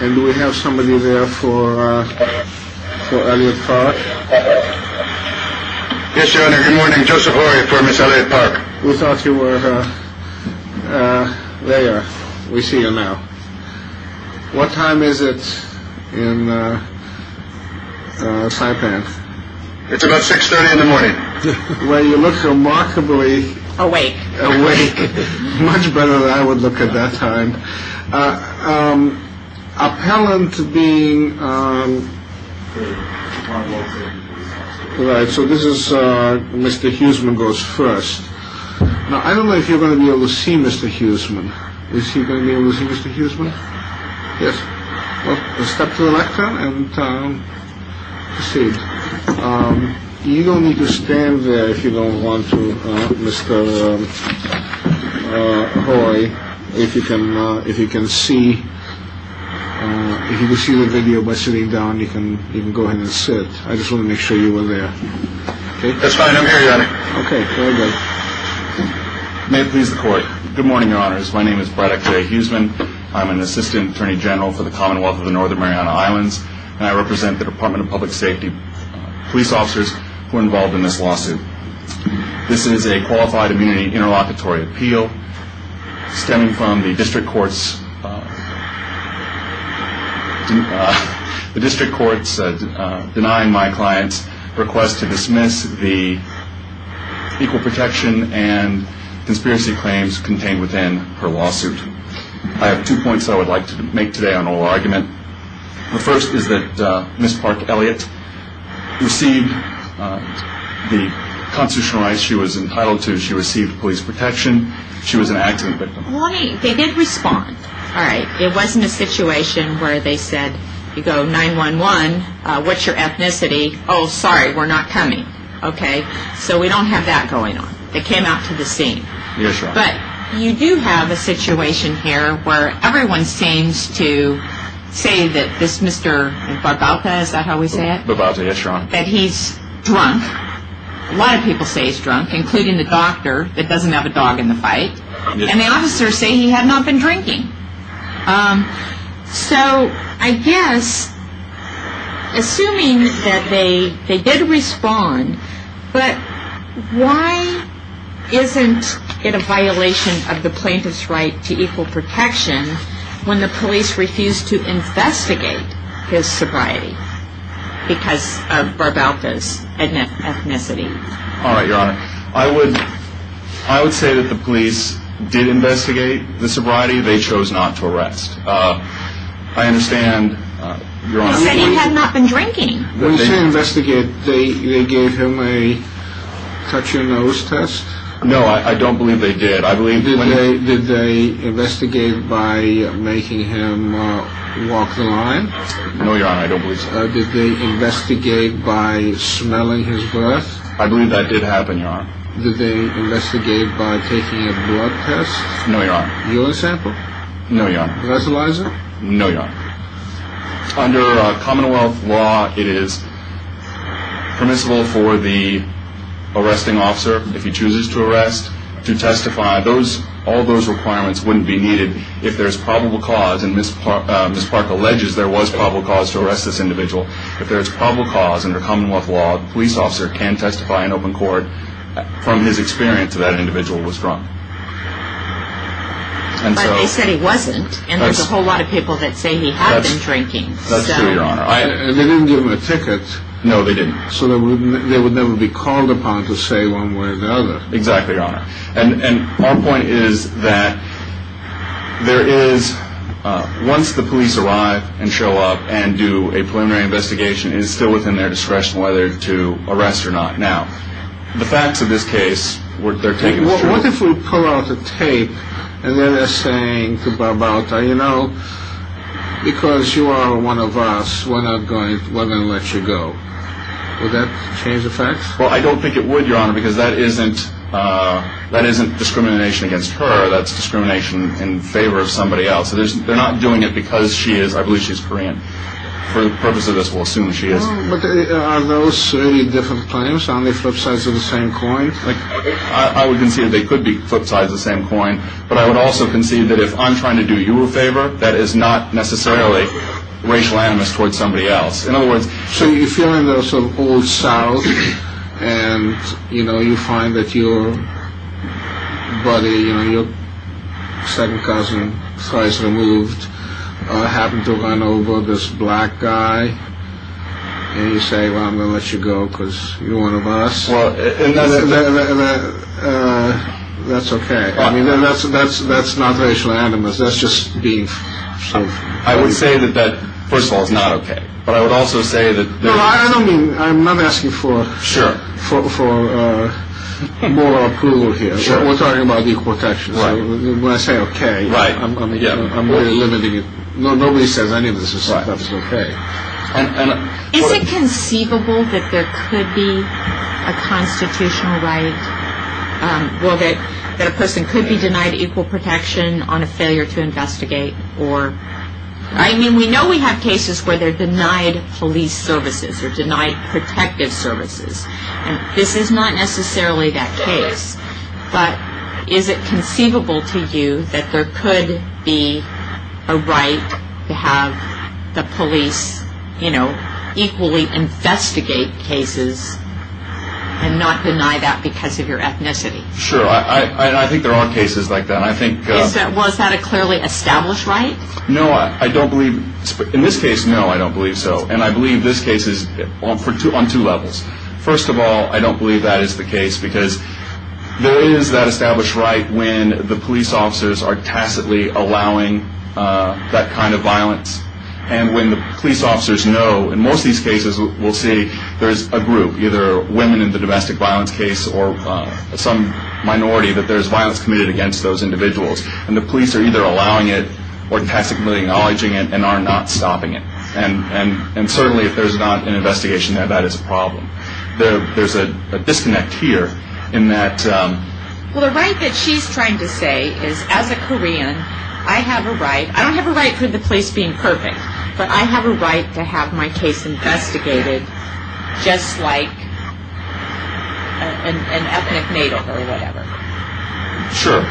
Do we have somebody there for Elliot-Park? Yes, Your Honor. Good morning. Joseph Horry for Ms. Elliot-Park. We thought you were there. We see you now. What time is it in Saipan? It's about 6.30 in the morning. Well, you look remarkably... Awake. Awake. Much better than I would look at that time. Appellant being... Right, so this is Mr. Huseman goes first. Now, I don't know if you're going to be able to see Mr. Huseman. Is he going to be able to see Mr. Huseman? Yes. Well, step to the left, then, and proceed. You don't need to stand there if you don't want to, Mr. Horry. If you can see the video by sitting down, you can go ahead and sit. I just wanted to make sure you were there. That's fine. I'm here, Your Honor. Okay. Very good. May it please the Court. Good morning, Your Honors. My name is Braddock J. Huseman. I'm an assistant attorney general for the Commonwealth of the Northern Mariana Islands, and I represent the Department of Public Safety police officers who are involved in this lawsuit. This is a qualified immunity interlocutory appeal stemming from the district court's denying my client's request to dismiss the equal protection and conspiracy claims contained within her lawsuit. I have two points I would like to make today on oral argument. The first is that Ms. Park Elliott received the constitutional rights she was entitled to. She received police protection. She was an acting victim. Right. They did respond. All right. It wasn't a situation where they said, you go, 911, what's your ethnicity? Oh, sorry, we're not coming, okay? So we don't have that going on. They came out to the scene. Yes, Your Honor. But you do have a situation here where everyone seems to say that this Mr. Bogalta, is that how we say it? Bogalta, yes, Your Honor. That he's drunk. A lot of people say he's drunk, including the doctor that doesn't have a dog in the fight. And the officers say he had not been drinking. So I guess, assuming that they did respond, but why isn't it a violation of the plaintiff's right to equal protection when the police refused to investigate his sobriety because of Bogalta's ethnicity? I would say that the police did investigate the sobriety. They chose not to arrest. I understand, Your Honor. He said he had not been drinking. When you say investigate, they gave him a touch-your-nose test? No, I don't believe they did. Did they investigate by making him walk the line? No, Your Honor, I don't believe so. Did they investigate by smelling his breath? I believe that did happen, Your Honor. Did they investigate by taking a blood test? No, Your Honor. Mule sample? No, Your Honor. Resalizer? No, Your Honor. Under Commonwealth law, it is permissible for the arresting officer, if he chooses to arrest, to testify. All those requirements wouldn't be needed if there's probable cause, and Ms. Park alleges there was probable cause to arrest this individual. If there's probable cause under Commonwealth law, the police officer can testify in open court from his experience that that individual was drunk. But they said he wasn't, and there's a whole lot of people that say he had been drinking. That's true, Your Honor. They didn't give him a ticket. No, they didn't. So they would never be called upon to say one way or the other. Exactly, Your Honor. And our point is that there is, once the police arrive and show up and do a preliminary investigation, it is still within their discretion whether to arrest or not. Now, the facts of this case, they're taking it as true. What if we pull out the tape, and then they're saying to Barbota, you know, because you are one of us, we're not going to let you go. Would that change the facts? Well, I don't think it would, Your Honor, because that isn't discrimination against her. That's discrimination in favor of somebody else. They're not doing it because she is. I believe she's Korean. For the purpose of this, we'll assume she is. But are those really different claims? Are they flip sides of the same coin? I would concede they could be flip sides of the same coin, but I would also concede that if I'm trying to do you a favor, that is not necessarily racial animus towards somebody else. In other words, so you feel in the sort of old south, and you know, you find that your buddy, you know, your second cousin, twice removed, happened to run over this black guy, and you say, well, I'm going to let you go because you're one of us. Well, that's okay. I mean, that's not racial animus. That's just being safe. I would say that that, first of all, is not okay. But I would also say that. No, I don't mean, I'm not asking for moral approval here. We're talking about equal protection. When I say okay, I'm limiting it. Nobody says any of this is okay. Is it conceivable that there could be a constitutional right, well, that a person could be denied equal protection on a failure to investigate? I mean, we know we have cases where they're denied police services or denied protective services. This is not necessarily that case. But is it conceivable to you that there could be a right to have the police, you know, equally investigate cases and not deny that because of your ethnicity? Sure. I think there are cases like that. Was that a clearly established right? No, I don't believe. In this case, no, I don't believe so. And I believe this case is on two levels. First of all, I don't believe that is the case because there is that established right when the police officers are tacitly allowing that kind of violence. And when the police officers know, in most of these cases we'll see, there's a group, either women in the domestic violence case or some minority that there's violence committed against those individuals. And the police are either allowing it or tacitly acknowledging it and are not stopping it. And certainly if there's not an investigation there, that is a problem. There's a disconnect here in that... Well, the right that she's trying to say is, as a Korean, I have a right... I don't have a right for the police being perfect, but I have a right to have my case investigated just like an ethnic NATO or whatever. Sure.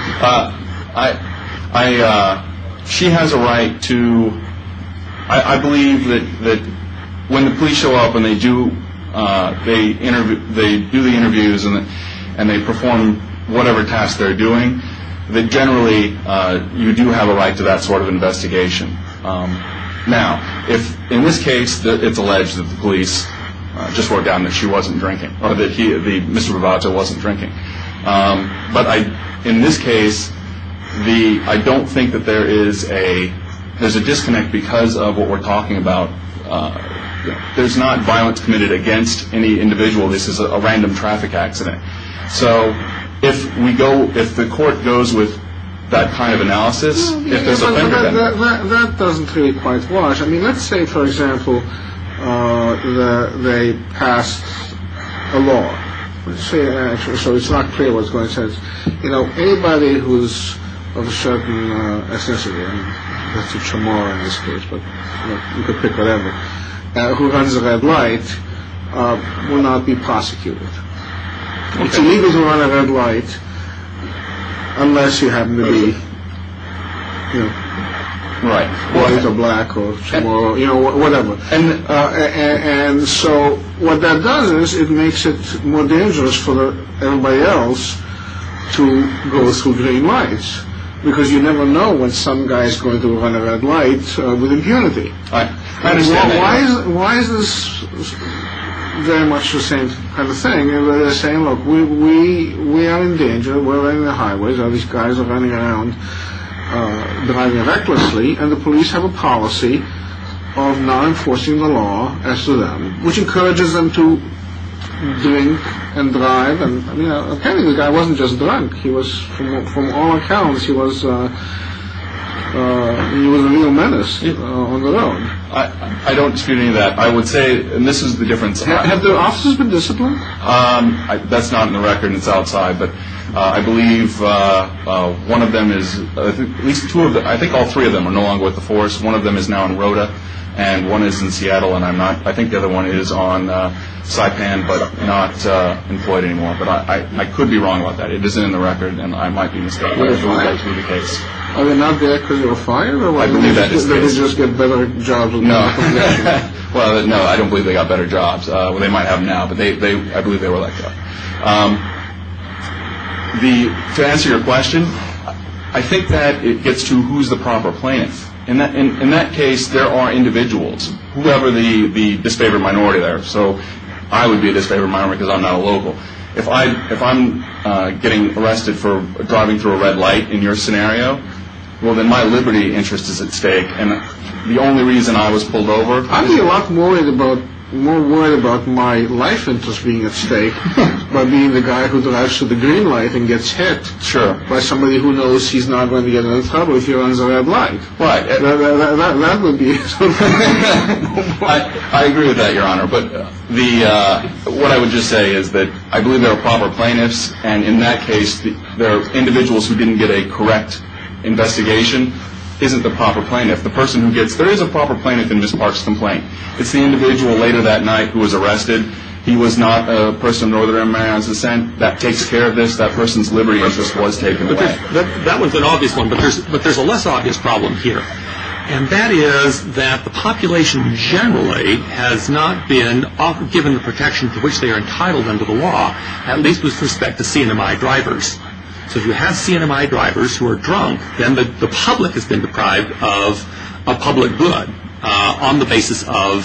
She has a right to... I believe that when the police show up and they do the interviews and they perform whatever task they're doing, that generally you do have a right to that sort of investigation. Now, in this case, it's alleged that the police just worked out that she wasn't drinking or that Mr. Bravato wasn't drinking. But in this case, I don't think that there is a disconnect because of what we're talking about. There's not violence committed against any individual. This is a random traffic accident. So if we go... if the court goes with that kind of analysis... That doesn't really quite work. I mean, let's say, for example, that they passed a law. So it's not clear what's going on. You know, anybody who's of a certain ethnicity, Mr. Chamorro in this case, but you could pick whatever, who runs a red light will not be prosecuted. It's illegal to run a red light unless you happen to be white or black or Chamorro or whatever. And so what that does is it makes it more dangerous for everybody else to go through green lights because you never know when some guy's going to run a red light with impunity. And why is this very much the same kind of thing? They're saying, look, we are in danger. We're running the highways. All these guys are running around driving recklessly. And the police have a policy of not enforcing the law as to them, which encourages them to drink and drive. And, you know, apparently the guy wasn't just drunk. He was, from all accounts, he was a real menace on the road. I don't dispute any of that. I would say, and this is the difference. Have the officers been disciplined? That's not in the record and it's outside. But I believe one of them is, at least two of them, I think all three of them are no longer with the force. One of them is now in Rota and one is in Seattle. And I'm not, I think the other one is on Saipan but not employed anymore. But I could be wrong about that. It isn't in the record and I might be mistaken. I don't believe that to be the case. Are they not there because they were fired? I believe that is the case. Or did they just get better jobs? No. Well, no, I don't believe they got better jobs. Well, they might have now, but I believe they were let go. To answer your question, I think that it gets to who's the proper plaintiff. In that case, there are individuals, whoever the disfavored minority there. So I would be a disfavored minority because I'm not a local. If I'm getting arrested for driving through a red light in your scenario, well, then my liberty interest is at stake. And the only reason I was pulled over. I'd be a lot more worried about my life interest being at stake by being the guy who drives through the green light and gets hit. Sure. By somebody who knows he's not going to get in trouble if he runs a red light. Right. That would be. I agree with that, Your Honor. But what I would just say is that I believe there are proper plaintiffs, and in that case there are individuals who didn't get a correct investigation isn't the proper plaintiff. There is a proper plaintiff in Ms. Park's complaint. It's the individual later that night who was arrested. He was not a person of Northern Maryland's descent that takes care of this. That person's liberty interest was taken away. That was an obvious one, but there's a less obvious problem here. And that is that the population generally has not been given the protection to which they are entitled under the law, at least with respect to CNMI drivers. So if you have CNMI drivers who are drunk, then the public has been deprived of public good on the basis of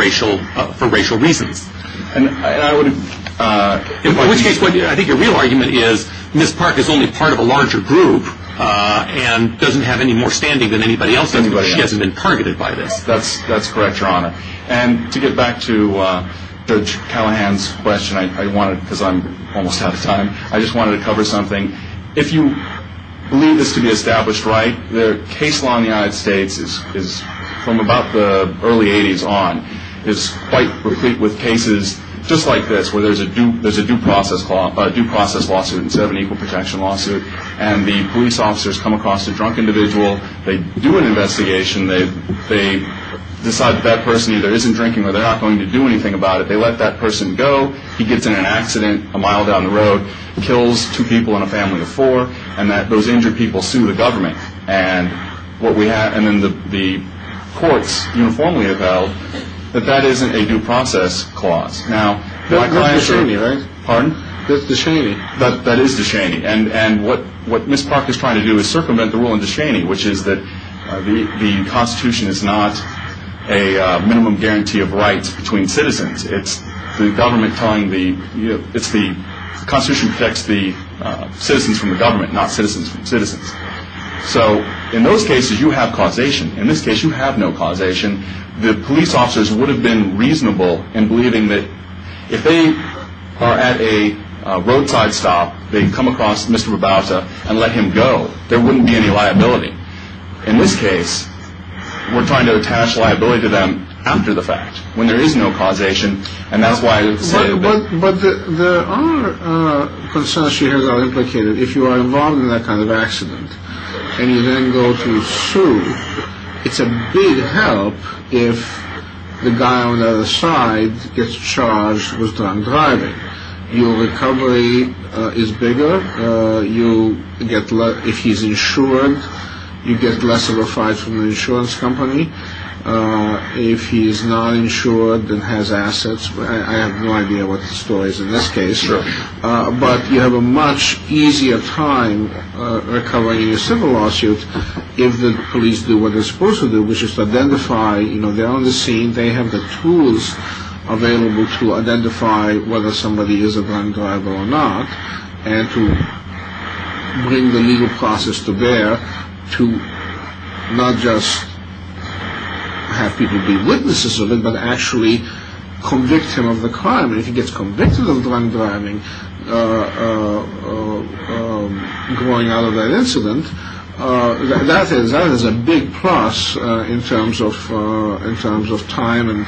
racial reasons. And I would. In which case, I think your real argument is Ms. Park is only part of a larger group and doesn't have any more standing than anybody else. She hasn't been targeted by this. That's correct, Your Honor. And to get back to Judge Callahan's question, because I'm almost out of time, I just wanted to cover something. If you believe this to be established right, the case law in the United States from about the early 80s on is quite replete with cases just like this, where there's a due process lawsuit instead of an equal protection lawsuit. And the police officers come across a drunk individual. They do an investigation. They decide that that person either isn't drinking or they're not going to do anything about it. They let that person go. He gets in an accident a mile down the road, kills two people in a family of four, and those injured people sue the government. And then the courts uniformly have held that that isn't a due process clause. That's Descheny, right? Pardon? That's Descheny. That is Descheny. And what Ms. Park is trying to do is circumvent the rule in Descheny, which is that the Constitution is not a minimum guarantee of rights between citizens. It's the Constitution protects the citizens from the government, not citizens from citizens. So in those cases, you have causation. In this case, you have no causation. The police officers would have been reasonable in believing that if they are at a roadside stop, they come across Mr. Rabauta and let him go, there wouldn't be any liability. In this case, we're trying to attach liability to them after the fact, when there is no causation, and that's why I say that. But there are concerns here that are implicated. If you are involved in that kind of accident and you then go to sue, it's a big help if the guy on the other side gets charged with drunk driving. Your recovery is bigger. If he's insured, you get less of a fine from the insurance company. If he's not insured and has assets, I have no idea what the story is in this case, but you have a much easier time recovering in a civil lawsuit if the police do what they're supposed to do, which is to identify. They're on the scene. They have the tools available to identify whether somebody is a drunk driver or not and to bring the legal process to bear to not just have people be witnesses of it, but actually convict him of the crime. If he gets convicted of drunk driving going out of that incident, that is a big plus in terms of time and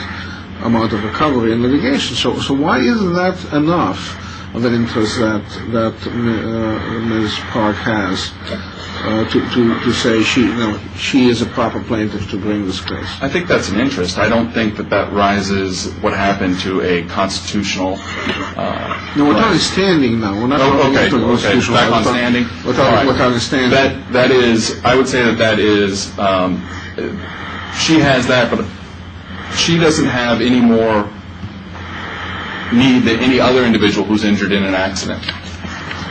amount of recovery and litigation. So why isn't that enough of an interest that Ms. Park has to say she is a proper plaintiff to bring this case? I think that's an interest. I don't think that that rises what happened to a constitutional clause. No, without a standing, though. Okay. Without a standing. Without a standing. That is, I would say that that is, she has that, but she doesn't have any more need than any other individual who's injured in an accident.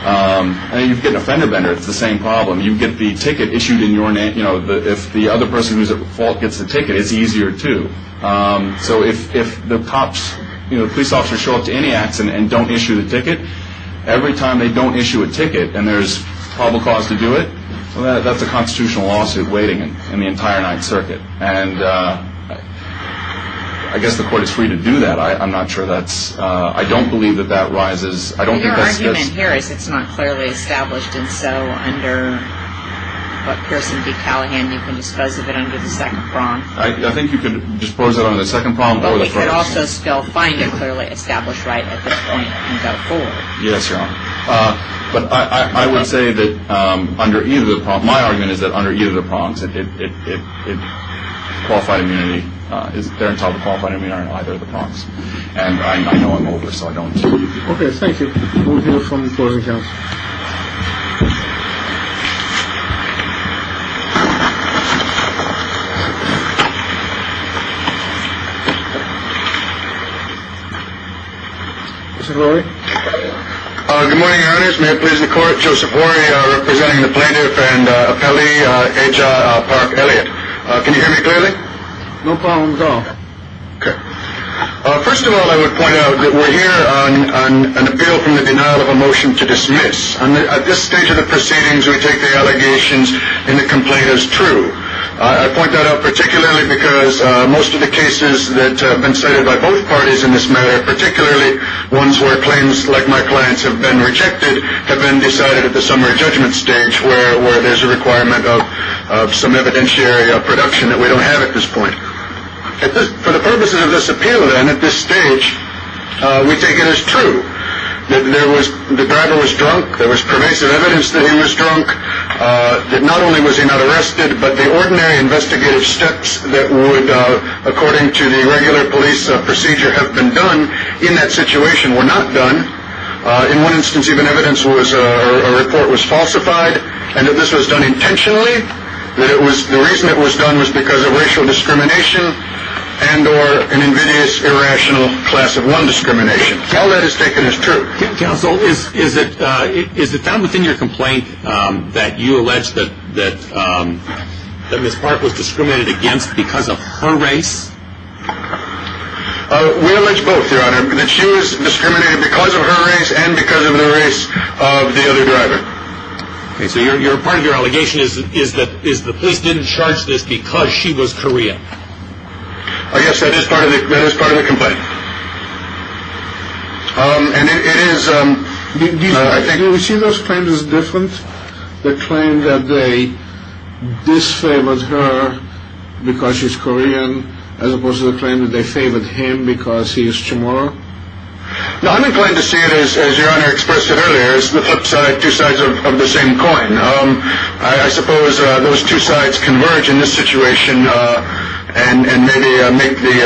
I mean, you get a fender bender. It's the same problem. You get the ticket issued in your name. If the other person who's at fault gets the ticket, it's easier, too. So if the cops, police officers show up to any accident and don't issue the ticket, every time they don't issue a ticket and there's probable cause to do it, that's a constitutional lawsuit waiting in the entire Ninth Circuit. I guess the court is free to do that. I'm not sure that's, I don't believe that that rises. Your argument here is it's not clearly established, and so under what Pearson v. Callahan you can dispose of it under the second prompt. I think you could dispose of it under the second prompt or the first. But we could also still find a clearly established right at this point and go forward. Yes, Your Honor. But I would say that under either of the prompts, my argument is that under either of the prompts, it qualified immunity, they're entitled to qualified immunity under either of the prompts. And I know I'm over, so I don't. Okay, thank you. We'll hear from the court in a second. Mr. Horry. Good morning, Your Honors. May it please the court, Joseph Horry representing the plaintiff and appellee Aja Park-Elliott. Can you hear me clearly? No problem at all. Okay. First of all, I would point out that we're here on an appeal from the denial of a motion to dismiss. At this stage of the proceedings, we take the allegations in the complaint as true. I point that out particularly because most of the cases that have been cited by both parties in this matter, particularly ones where claims like my client's have been rejected, have been decided at the summary judgment stage where there's a requirement of some evidentiary production that we don't have at this point. For the purposes of this appeal, then, at this stage, we take it as true that the driver was drunk, there was pervasive evidence that he was drunk, that not only was he not arrested, but the ordinary investigative steps that would, according to the regular police procedure, have been done in that situation were not done. In one instance, even evidence was a report was falsified, and that this was done intentionally. The reason it was done was because of racial discrimination and or an invidious, irrational class of one discrimination. All that is taken as true. Counsel, is it found within your complaint that you allege that Ms. Park was discriminated against because of her race? We allege both, Your Honor, that she was discriminated because of her race and because of the race of the other driver. Okay, so part of your allegation is that the police didn't charge this because she was Korean. Yes, that is part of the complaint. Do you see those claims as different, the claim that they disfavored her because she's Korean as opposed to the claim that they favored him because he is Chamorro? No, I'm inclined to see it as Your Honor expressed it earlier. It's the flip side, two sides of the same coin. I suppose those two sides converge in this situation and maybe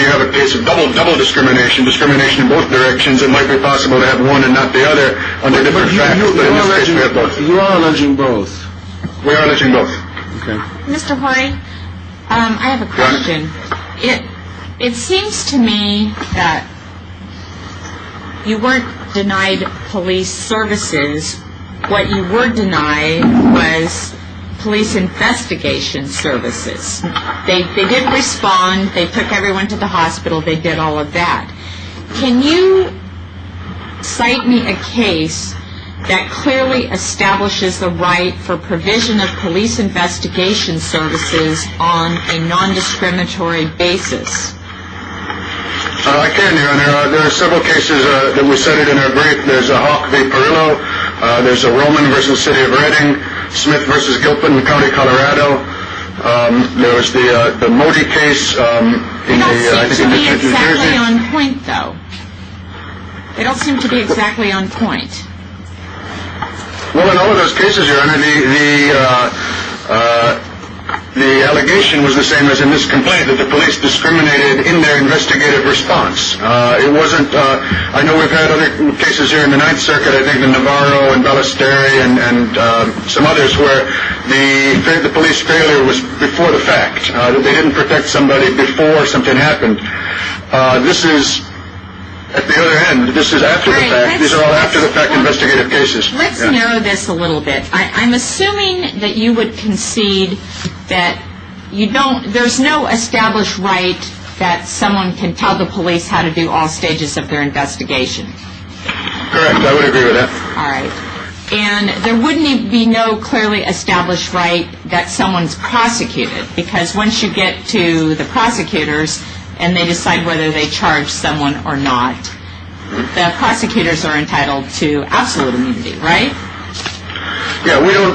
have a case of double, double discrimination, discrimination in both directions. It might be possible to have one and not the other under different facts, but in this case we have both. You are alleging both? We are alleging both. Okay. Mr. Hoy, I have a question. It seems to me that you weren't denied police services. What you were denied was police investigation services. They did respond. They took everyone to the hospital. They did all of that. Can you cite me a case that clearly establishes the right for provision of police investigation services on a non-discriminatory basis? I can, Your Honor. There are several cases that we cited in our brief. There's a Hawk v. Perillo. There's a Roman v. City of Reading, Smith v. Gilpin County, Colorado. There was the Modi case. They don't seem to be exactly on point, though. They don't seem to be exactly on point. Well, in all of those cases, Your Honor, the allegation was the same as in this complaint, that the police discriminated in their investigative response. I know we've had other cases here in the Ninth Circuit, I think in Navarro and Ballesteri and some others, where the police failure was before the fact, that they didn't protect somebody before something happened. This is at the other end. This is after the fact. These are all after-the-fact investigative cases. Let's narrow this a little bit. I'm assuming that you would concede that there's no established right that someone can tell the police how to do all stages of their investigation. Correct. I would agree with that. All right. And there wouldn't be no clearly established right that someone's prosecuted, because once you get to the prosecutors and they decide whether they charge someone or not, the prosecutors are entitled to absolute immunity, right? Yeah. We don't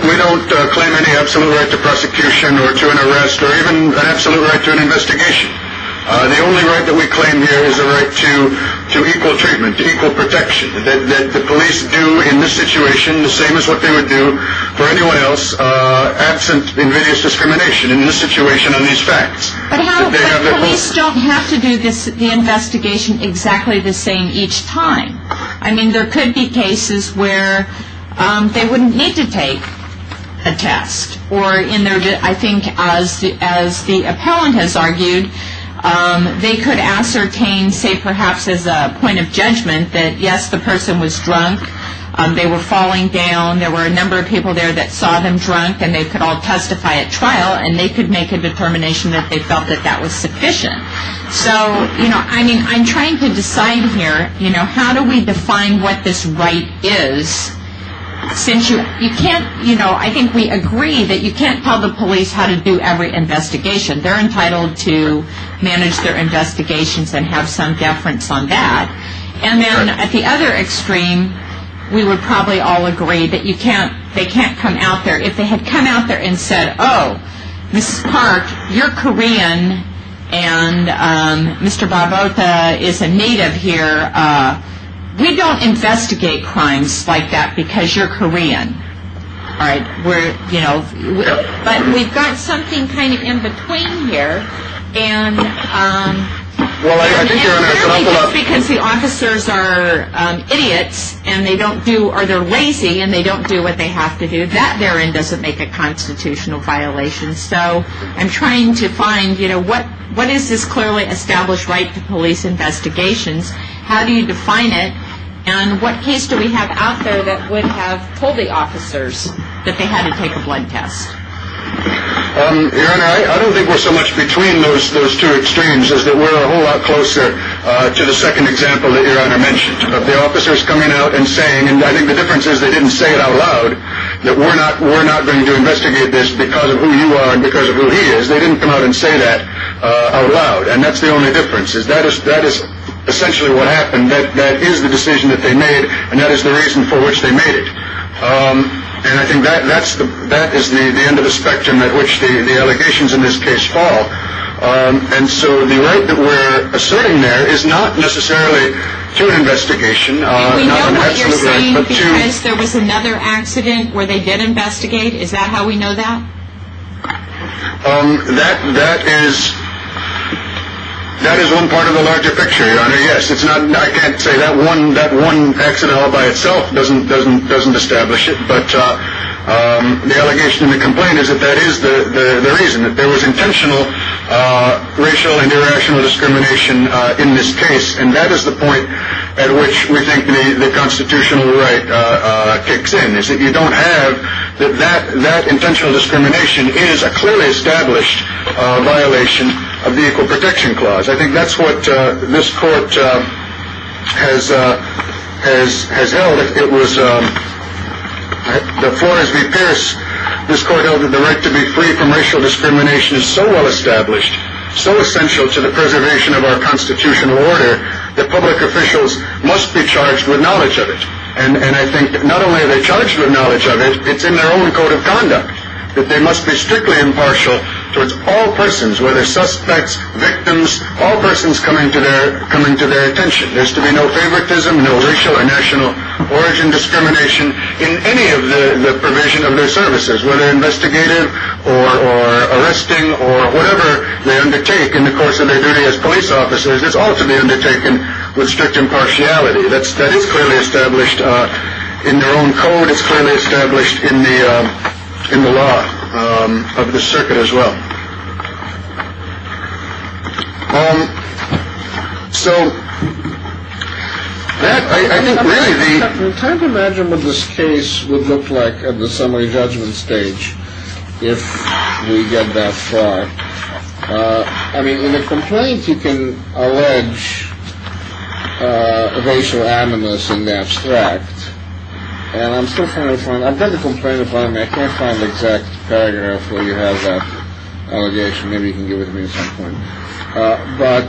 claim any absolute right to prosecution or to an arrest or even an absolute right to an investigation. The only right that we claim here is a right to equal treatment, to equal protection, that the police do in this situation the same as what they would do for anyone else, absent invidious discrimination in this situation on these facts. But police don't have to do the investigation exactly the same each time. I mean, there could be cases where they wouldn't need to take a test, or I think as the appellant has argued, they could ascertain, say perhaps as a point of judgment, that, yes, the person was drunk, they were falling down, there were a number of people there that saw them drunk and they could all testify at trial and they could make a determination that they felt that that was sufficient. So, you know, I mean, I'm trying to decide here, you know, how do we define what this right is? Since you can't, you know, I think we agree that you can't tell the police how to do every investigation. They're entitled to manage their investigations and have some deference on that. And then at the other extreme, we would probably all agree that you can't, they can't come out there, if they had come out there and said, oh, Mrs. Park, you're Korean and Mr. Barbota is a native here, we don't investigate crimes like that because you're Korean. All right, we're, you know, but we've got something kind of in between here. And clearly just because the officers are idiots and they don't do, or they're lazy and they don't do what they have to do, that therein doesn't make a constitutional violation. So I'm trying to find, you know, what is this clearly established right to police investigations? How do you define it? And what case do we have out there that would have told the officers that they had to take a blood test? Your Honor, I don't think we're so much between those two extremes, is that we're a whole lot closer to the second example that Your Honor mentioned, of the officers coming out and saying, and I think the difference is they didn't say it out loud, that we're not going to investigate this because of who you are and because of who he is. They didn't come out and say that out loud. And that's the only difference. That is essentially what happened. That is the decision that they made and that is the reason for which they made it. And I think that is the end of the spectrum at which the allegations in this case fall. And so the right that we're asserting there is not necessarily through an investigation. We know what you're saying because there was another accident where they did investigate. Is that how we know that? That is one part of the larger picture, Your Honor. Yes, I can't say that one accident all by itself doesn't establish it. But the allegation and the complaint is that that is the reason, that there was intentional racial and irrational discrimination in this case. And that is the point at which we think the constitutional right kicks in, is that you don't have that that intentional discrimination is a clearly established violation of the Equal Protection Clause. I think that's what this court has held. It was the Flores v. Pierce. This court held that the right to be free from racial discrimination is so well established, so essential to the preservation of our constitutional order, that public officials must be charged with knowledge of it. And I think not only are they charged with knowledge of it, it's in their own code of conduct, that they must be strictly impartial towards all persons, whether suspects, victims, all persons coming to their attention. There's to be no favoritism, no racial or national origin discrimination in any of the provision of their services, whether investigative or arresting or whatever they undertake in the course of their duty as police officers. It's all to be undertaken with strict impartiality. That's that is clearly established in their own code. It's clearly established in the in the law of the circuit as well. So I can't imagine what this case would look like at the summary judgment stage if we get that far. I mean, in a complaint, you can allege a racial animus in the abstract. And I'm still trying to find I've got a complaint upon me. I can't find the exact paragraph where you have that allegation. Maybe you can give it to me at some point. But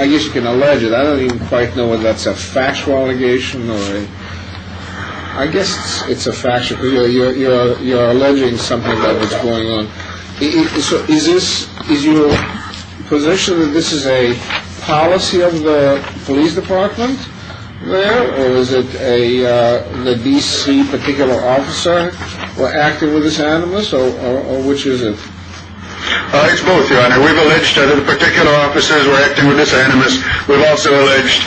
I guess you can allege it. I don't even quite know whether that's a factual allegation or I guess it's a factual. You're you're you're alleging something about what's going on. So is this is your position that this is a policy of the police department? Well, is it a the D.C. particular officer or acting with this animus or which is it? It's both. We've alleged that the particular officers were acting with this animus. We've also alleged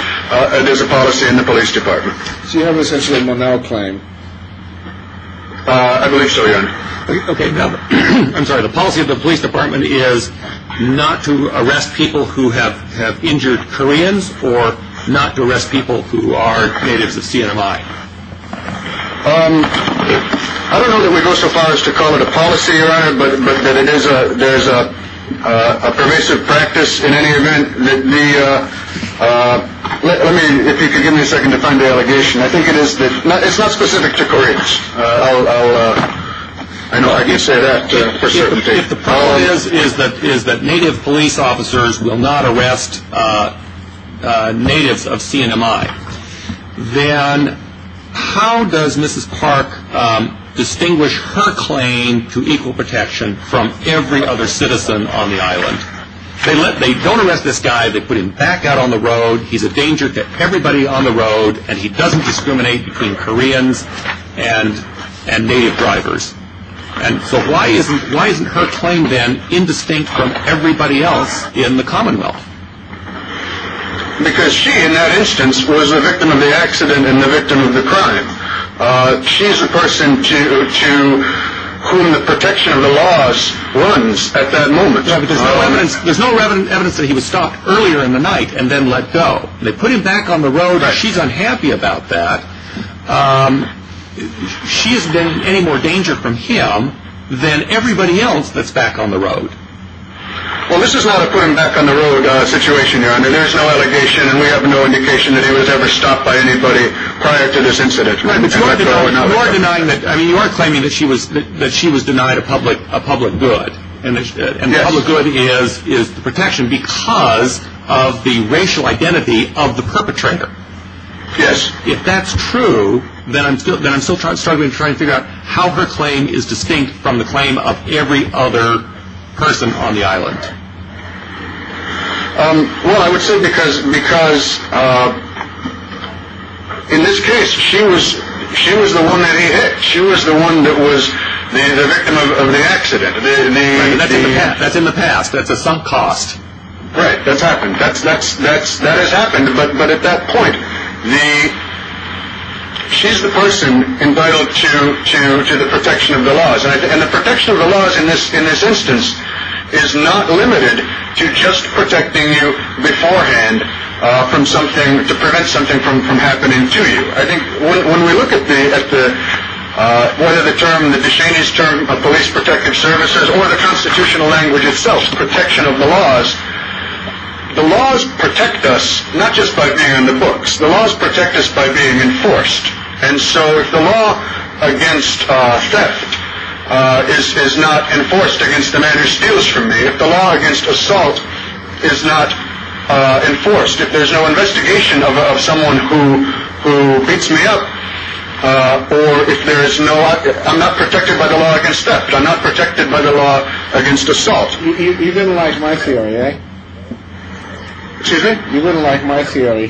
there's a policy in the police department. So you have essentially a Monal claim. I believe so. OK. I'm sorry. The policy of the police department is not to arrest people who have have injured Koreans or not to arrest people who are natives of CMI. I don't know that we go so far as to call it a policy. But it is a there's a pervasive practice in any event that the let me if you could give me a second to find the allegation. I think it is. It's not specific to Koreans. I know I can say that. If the problem is, is that is that native police officers will not arrest natives of CMI, then how does Mrs. Park distinguish her claim to equal protection from every other citizen on the island? They let they don't arrest this guy. They put him back out on the road. He's a danger to everybody on the road and he doesn't discriminate between Koreans and and native drivers. And so why isn't why isn't her claim then indistinct from everybody else in the Commonwealth? Because she, in that instance, was a victim of the accident and the victim of the crime. She is a person to whom the protection of the laws runs at that moment. There's no evidence that he was stopped earlier in the night and then let go. They put him back on the road. She's unhappy about that. She is in any more danger from him than everybody else that's back on the road. Well, this is not a put him back on the road situation. There's no allegation and we have no indication that he was ever stopped by anybody prior to this incident. You are denying that. I mean, you are claiming that she was that she was denied a public a public good. And the public good is is the protection because of the racial identity of the perpetrator. Yes. If that's true, then I'm still then I'm still struggling to try and figure out how her claim is distinct from the claim of every other person on the island. Well, I would say because because in this case, she was she was the one that he hit. She was the one that was the victim of the accident. That's in the past. That's a sunk cost. Right. That's happened. That's that's that's that has happened. But but at that point, the she's the person entitled to to to the protection of the laws. And the protection of the laws in this in this instance is not limited to just protecting you beforehand from something to prevent something from from happening to you. I think when we look at the at the one of the term that the Chinese term of police protective services or the constitutional language itself, the protection of the laws, the laws protect us not just by being in the books, the laws protect us by being enforced. And so if the law against theft is not enforced against the man who steals from me, if the law against assault is not enforced, if there's no investigation of someone who who beats me up or if there is no I'm not protected by the law against theft, I'm not protected by the law against assault. You didn't like my theory. Excuse me. You wouldn't like my theory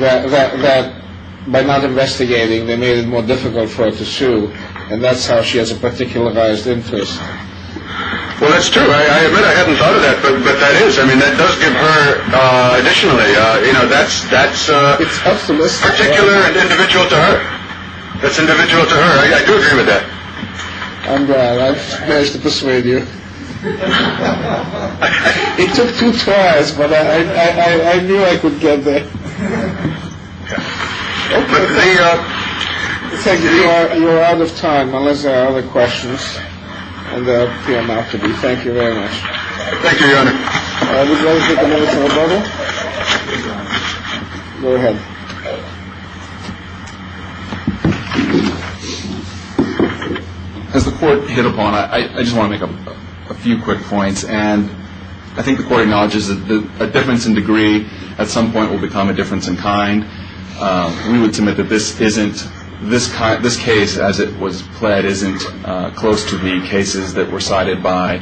that by not investigating, they made it more difficult for us to sue. And that's how she has a particular biased interest. Well, that's true. I haven't thought of that, but that is I mean, that does give her additionally. You know, that's that's it's up to this particular individual to her. That's individual to her. I do agree with that. I'm glad I managed to persuade you. It took two tries, but I knew I could get there. Thank you. You're out of time unless there are other questions. Thank you very much. As the court hit upon, I just want to make a few quick points. And I think the court acknowledges that a difference in degree at some point will become a difference in kind. We would submit that this isn't this. This case, as it was played, isn't close to the cases that were cited by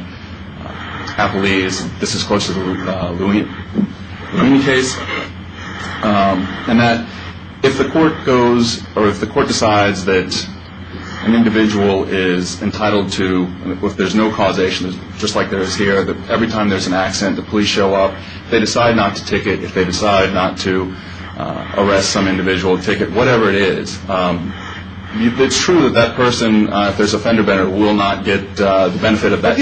Applebee's. This is close to the case and that if the court goes or if the court decides that an individual is entitled to, if there's no causation, just like there is here, that every time there's an accident, the police show up. If they decide not to ticket, if they decide not to arrest some individual ticket, whatever it is, it's true that that person, if there's a fender banner, will not get the benefit of that.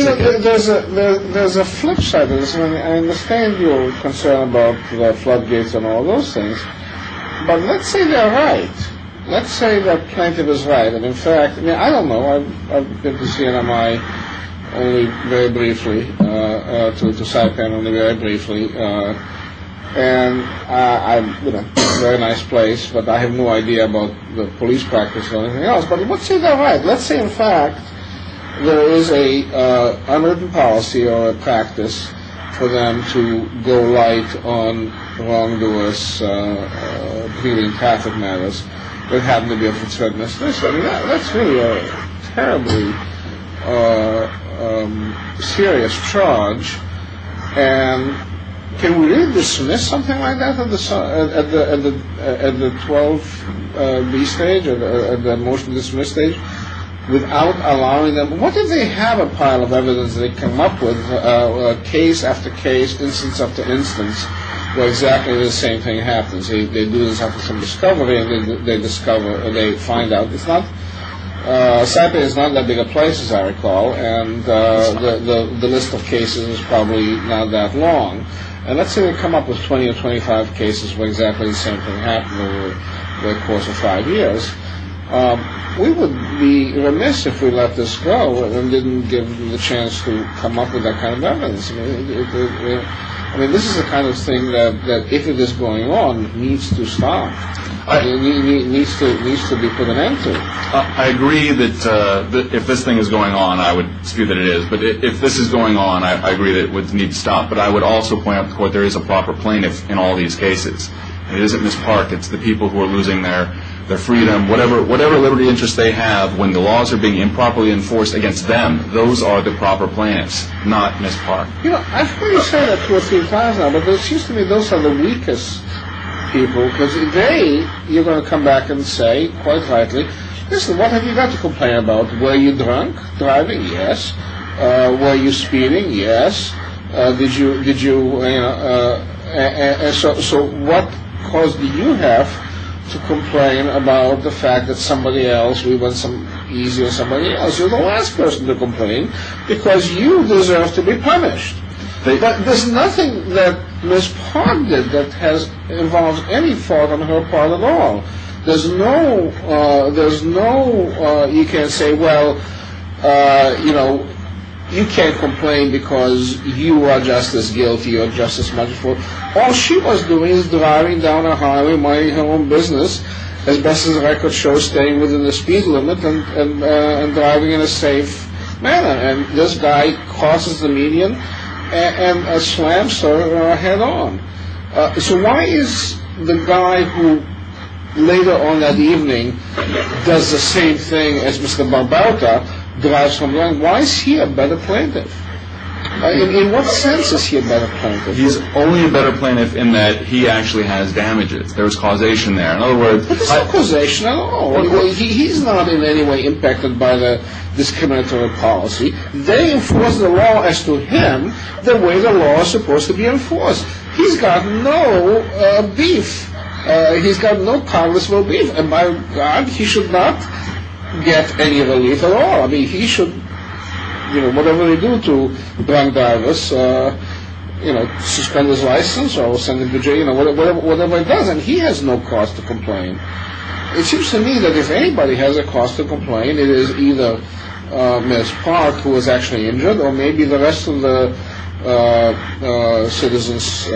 There's a flip side to this. I understand your concern about floodgates and all those things. But let's say they're right. Let's say the plaintiff is right. In fact, I don't know. I've been to CNMI only very briefly, to South Bend only very briefly. And I'm in a very nice place, but I have no idea about the police practice or anything else. But let's say they're right. Let's say, in fact, there is an unwritten policy or a practice for them to go right on wrongdoers, including traffic matters, that happen to be of concern to us. That's really a terribly serious charge. And can we really dismiss something like that at the 12B stage, at the motion-to-dismiss stage, without allowing them? What if they have a pile of evidence that they come up with case after case, instance after instance, where exactly the same thing happens? They do this after some discovery, and they discover or they find out. South Bend is not that big a place, as I recall, and the list of cases is probably not that long. And let's say they come up with 20 or 25 cases where exactly the same thing happened over the course of five years. We would be remiss if we let this go and didn't give them the chance to come up with that kind of evidence. I mean, this is the kind of thing that, if it is going on, needs to stop. It needs to be put an end to. I agree that if this thing is going on, I would skew that it is. But if this is going on, I agree that it needs to stop. But I would also point out to the Court that there is a proper plaintiff in all these cases. It isn't Ms. Park. It's the people who are losing their freedom. Whatever liberty interests they have, when the laws are being improperly enforced against them, those are the proper plaintiffs, not Ms. Park. You know, I've heard you say that two or three times now, but it seems to me those are the weakest people, because they, you're going to come back and say, quite rightly, listen, what have you got to complain about? Were you drunk driving? Yes. Were you speeding? Yes. Did you, you know, so what cause do you have to complain about the fact that somebody else, we want some easy or somebody else, you're the last person to complain, because you deserve to be punished. But there's nothing that Ms. Park did that has involved any fault on her part at all. There's no, there's no, you can't say, well, you know, you can't complain because you are just as guilty or just as much for, all she was doing is driving down a highway, minding her own business, as best as the record shows, staying within the speed limit and driving in a safe manner. And this guy crosses the median and slams her head on. So why is the guy who later on that evening does the same thing as Mr. Barbauta, drives from there, why is he a better plaintiff? In what sense is he a better plaintiff? He's only a better plaintiff in that he actually has damages. There's causation there. There's no causation at all. He's not in any way impacted by the discriminatory policy. They enforce the law as to him the way the law is supposed to be enforced. He's got no beef. He's got no Congress will beef. And by God, he should not get any relief at all. I mean, he should, you know, whatever they do to Brian Davis, you know, suspend his license or send him to jail, you know, whatever it does. And he has no cause to complain. It seems to me that if anybody has a cause to complain, it is either Ms. Park, who was actually injured, or maybe the rest of the citizens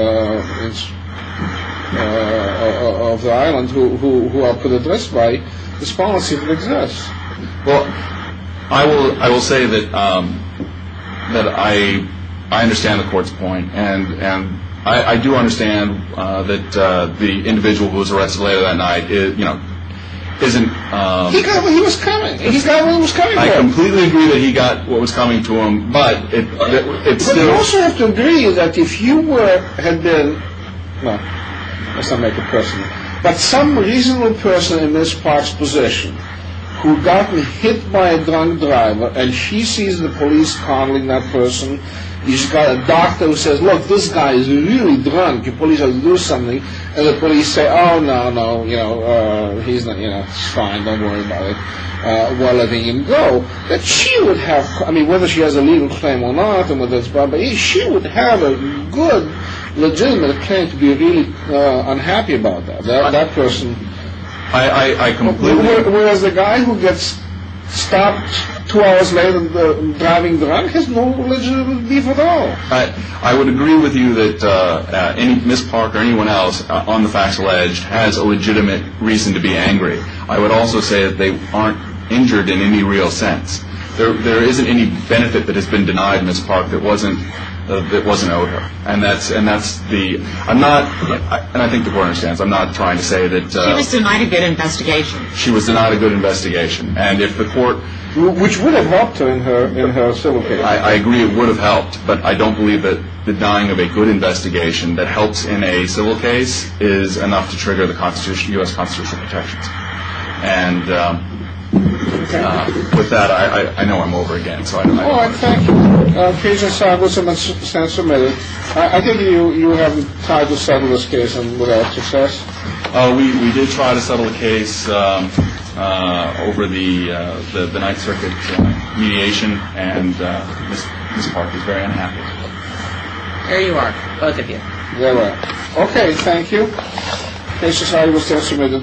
of the island who are put at risk by this policy that exists. Well, I will say that I understand the court's point. And I do understand that the individual who was arrested later that night, you know, isn't… He was coming. He's got what he was coming for. I completely agree that he got what was coming to him, but it's still… But you also have to agree that if you had been, well, let's not make it personal, but some reasonable person in Ms. Park's position who had gotten hit by a drunk driver and she sees the police conning that person, she's got a doctor who says, look, this guy is really drunk. The police ought to do something. And the police say, oh, no, no, you know, he's not, you know, it's fine. Don't worry about it. Well, let him go. But she would have, I mean, whether she has a legal claim or not, she would have a good, legitimate claim to be really unhappy about that. That person… I completely agree. Whereas the guy who gets stopped two hours later driving drunk has no legitimate reason at all. I would agree with you that Ms. Park or anyone else on the factual edge has a legitimate reason to be angry. I would also say that they aren't injured in any real sense. There isn't any benefit that has been denied Ms. Park that wasn't owed her. And that's the… I'm not… And I think the court understands. I'm not trying to say that… She was denied a good investigation. She was denied a good investigation. And if the court… Which would have helped her in her civil case. I agree it would have helped. But I don't believe that the denying of a good investigation that helps in a civil case is enough to trigger the U.S. Constitutional protections. And with that, I know I'm over again. So I don't have anything to add. All right. Thank you. Cajun Sargassum and Senator Milley. I think you have tried to settle this case without success. We did try to settle the case over the Ninth Circuit mediation. And Ms. Park is very unhappy. There you are. Both of you. There we are. Okay. Thank you. Cajun Sargassum.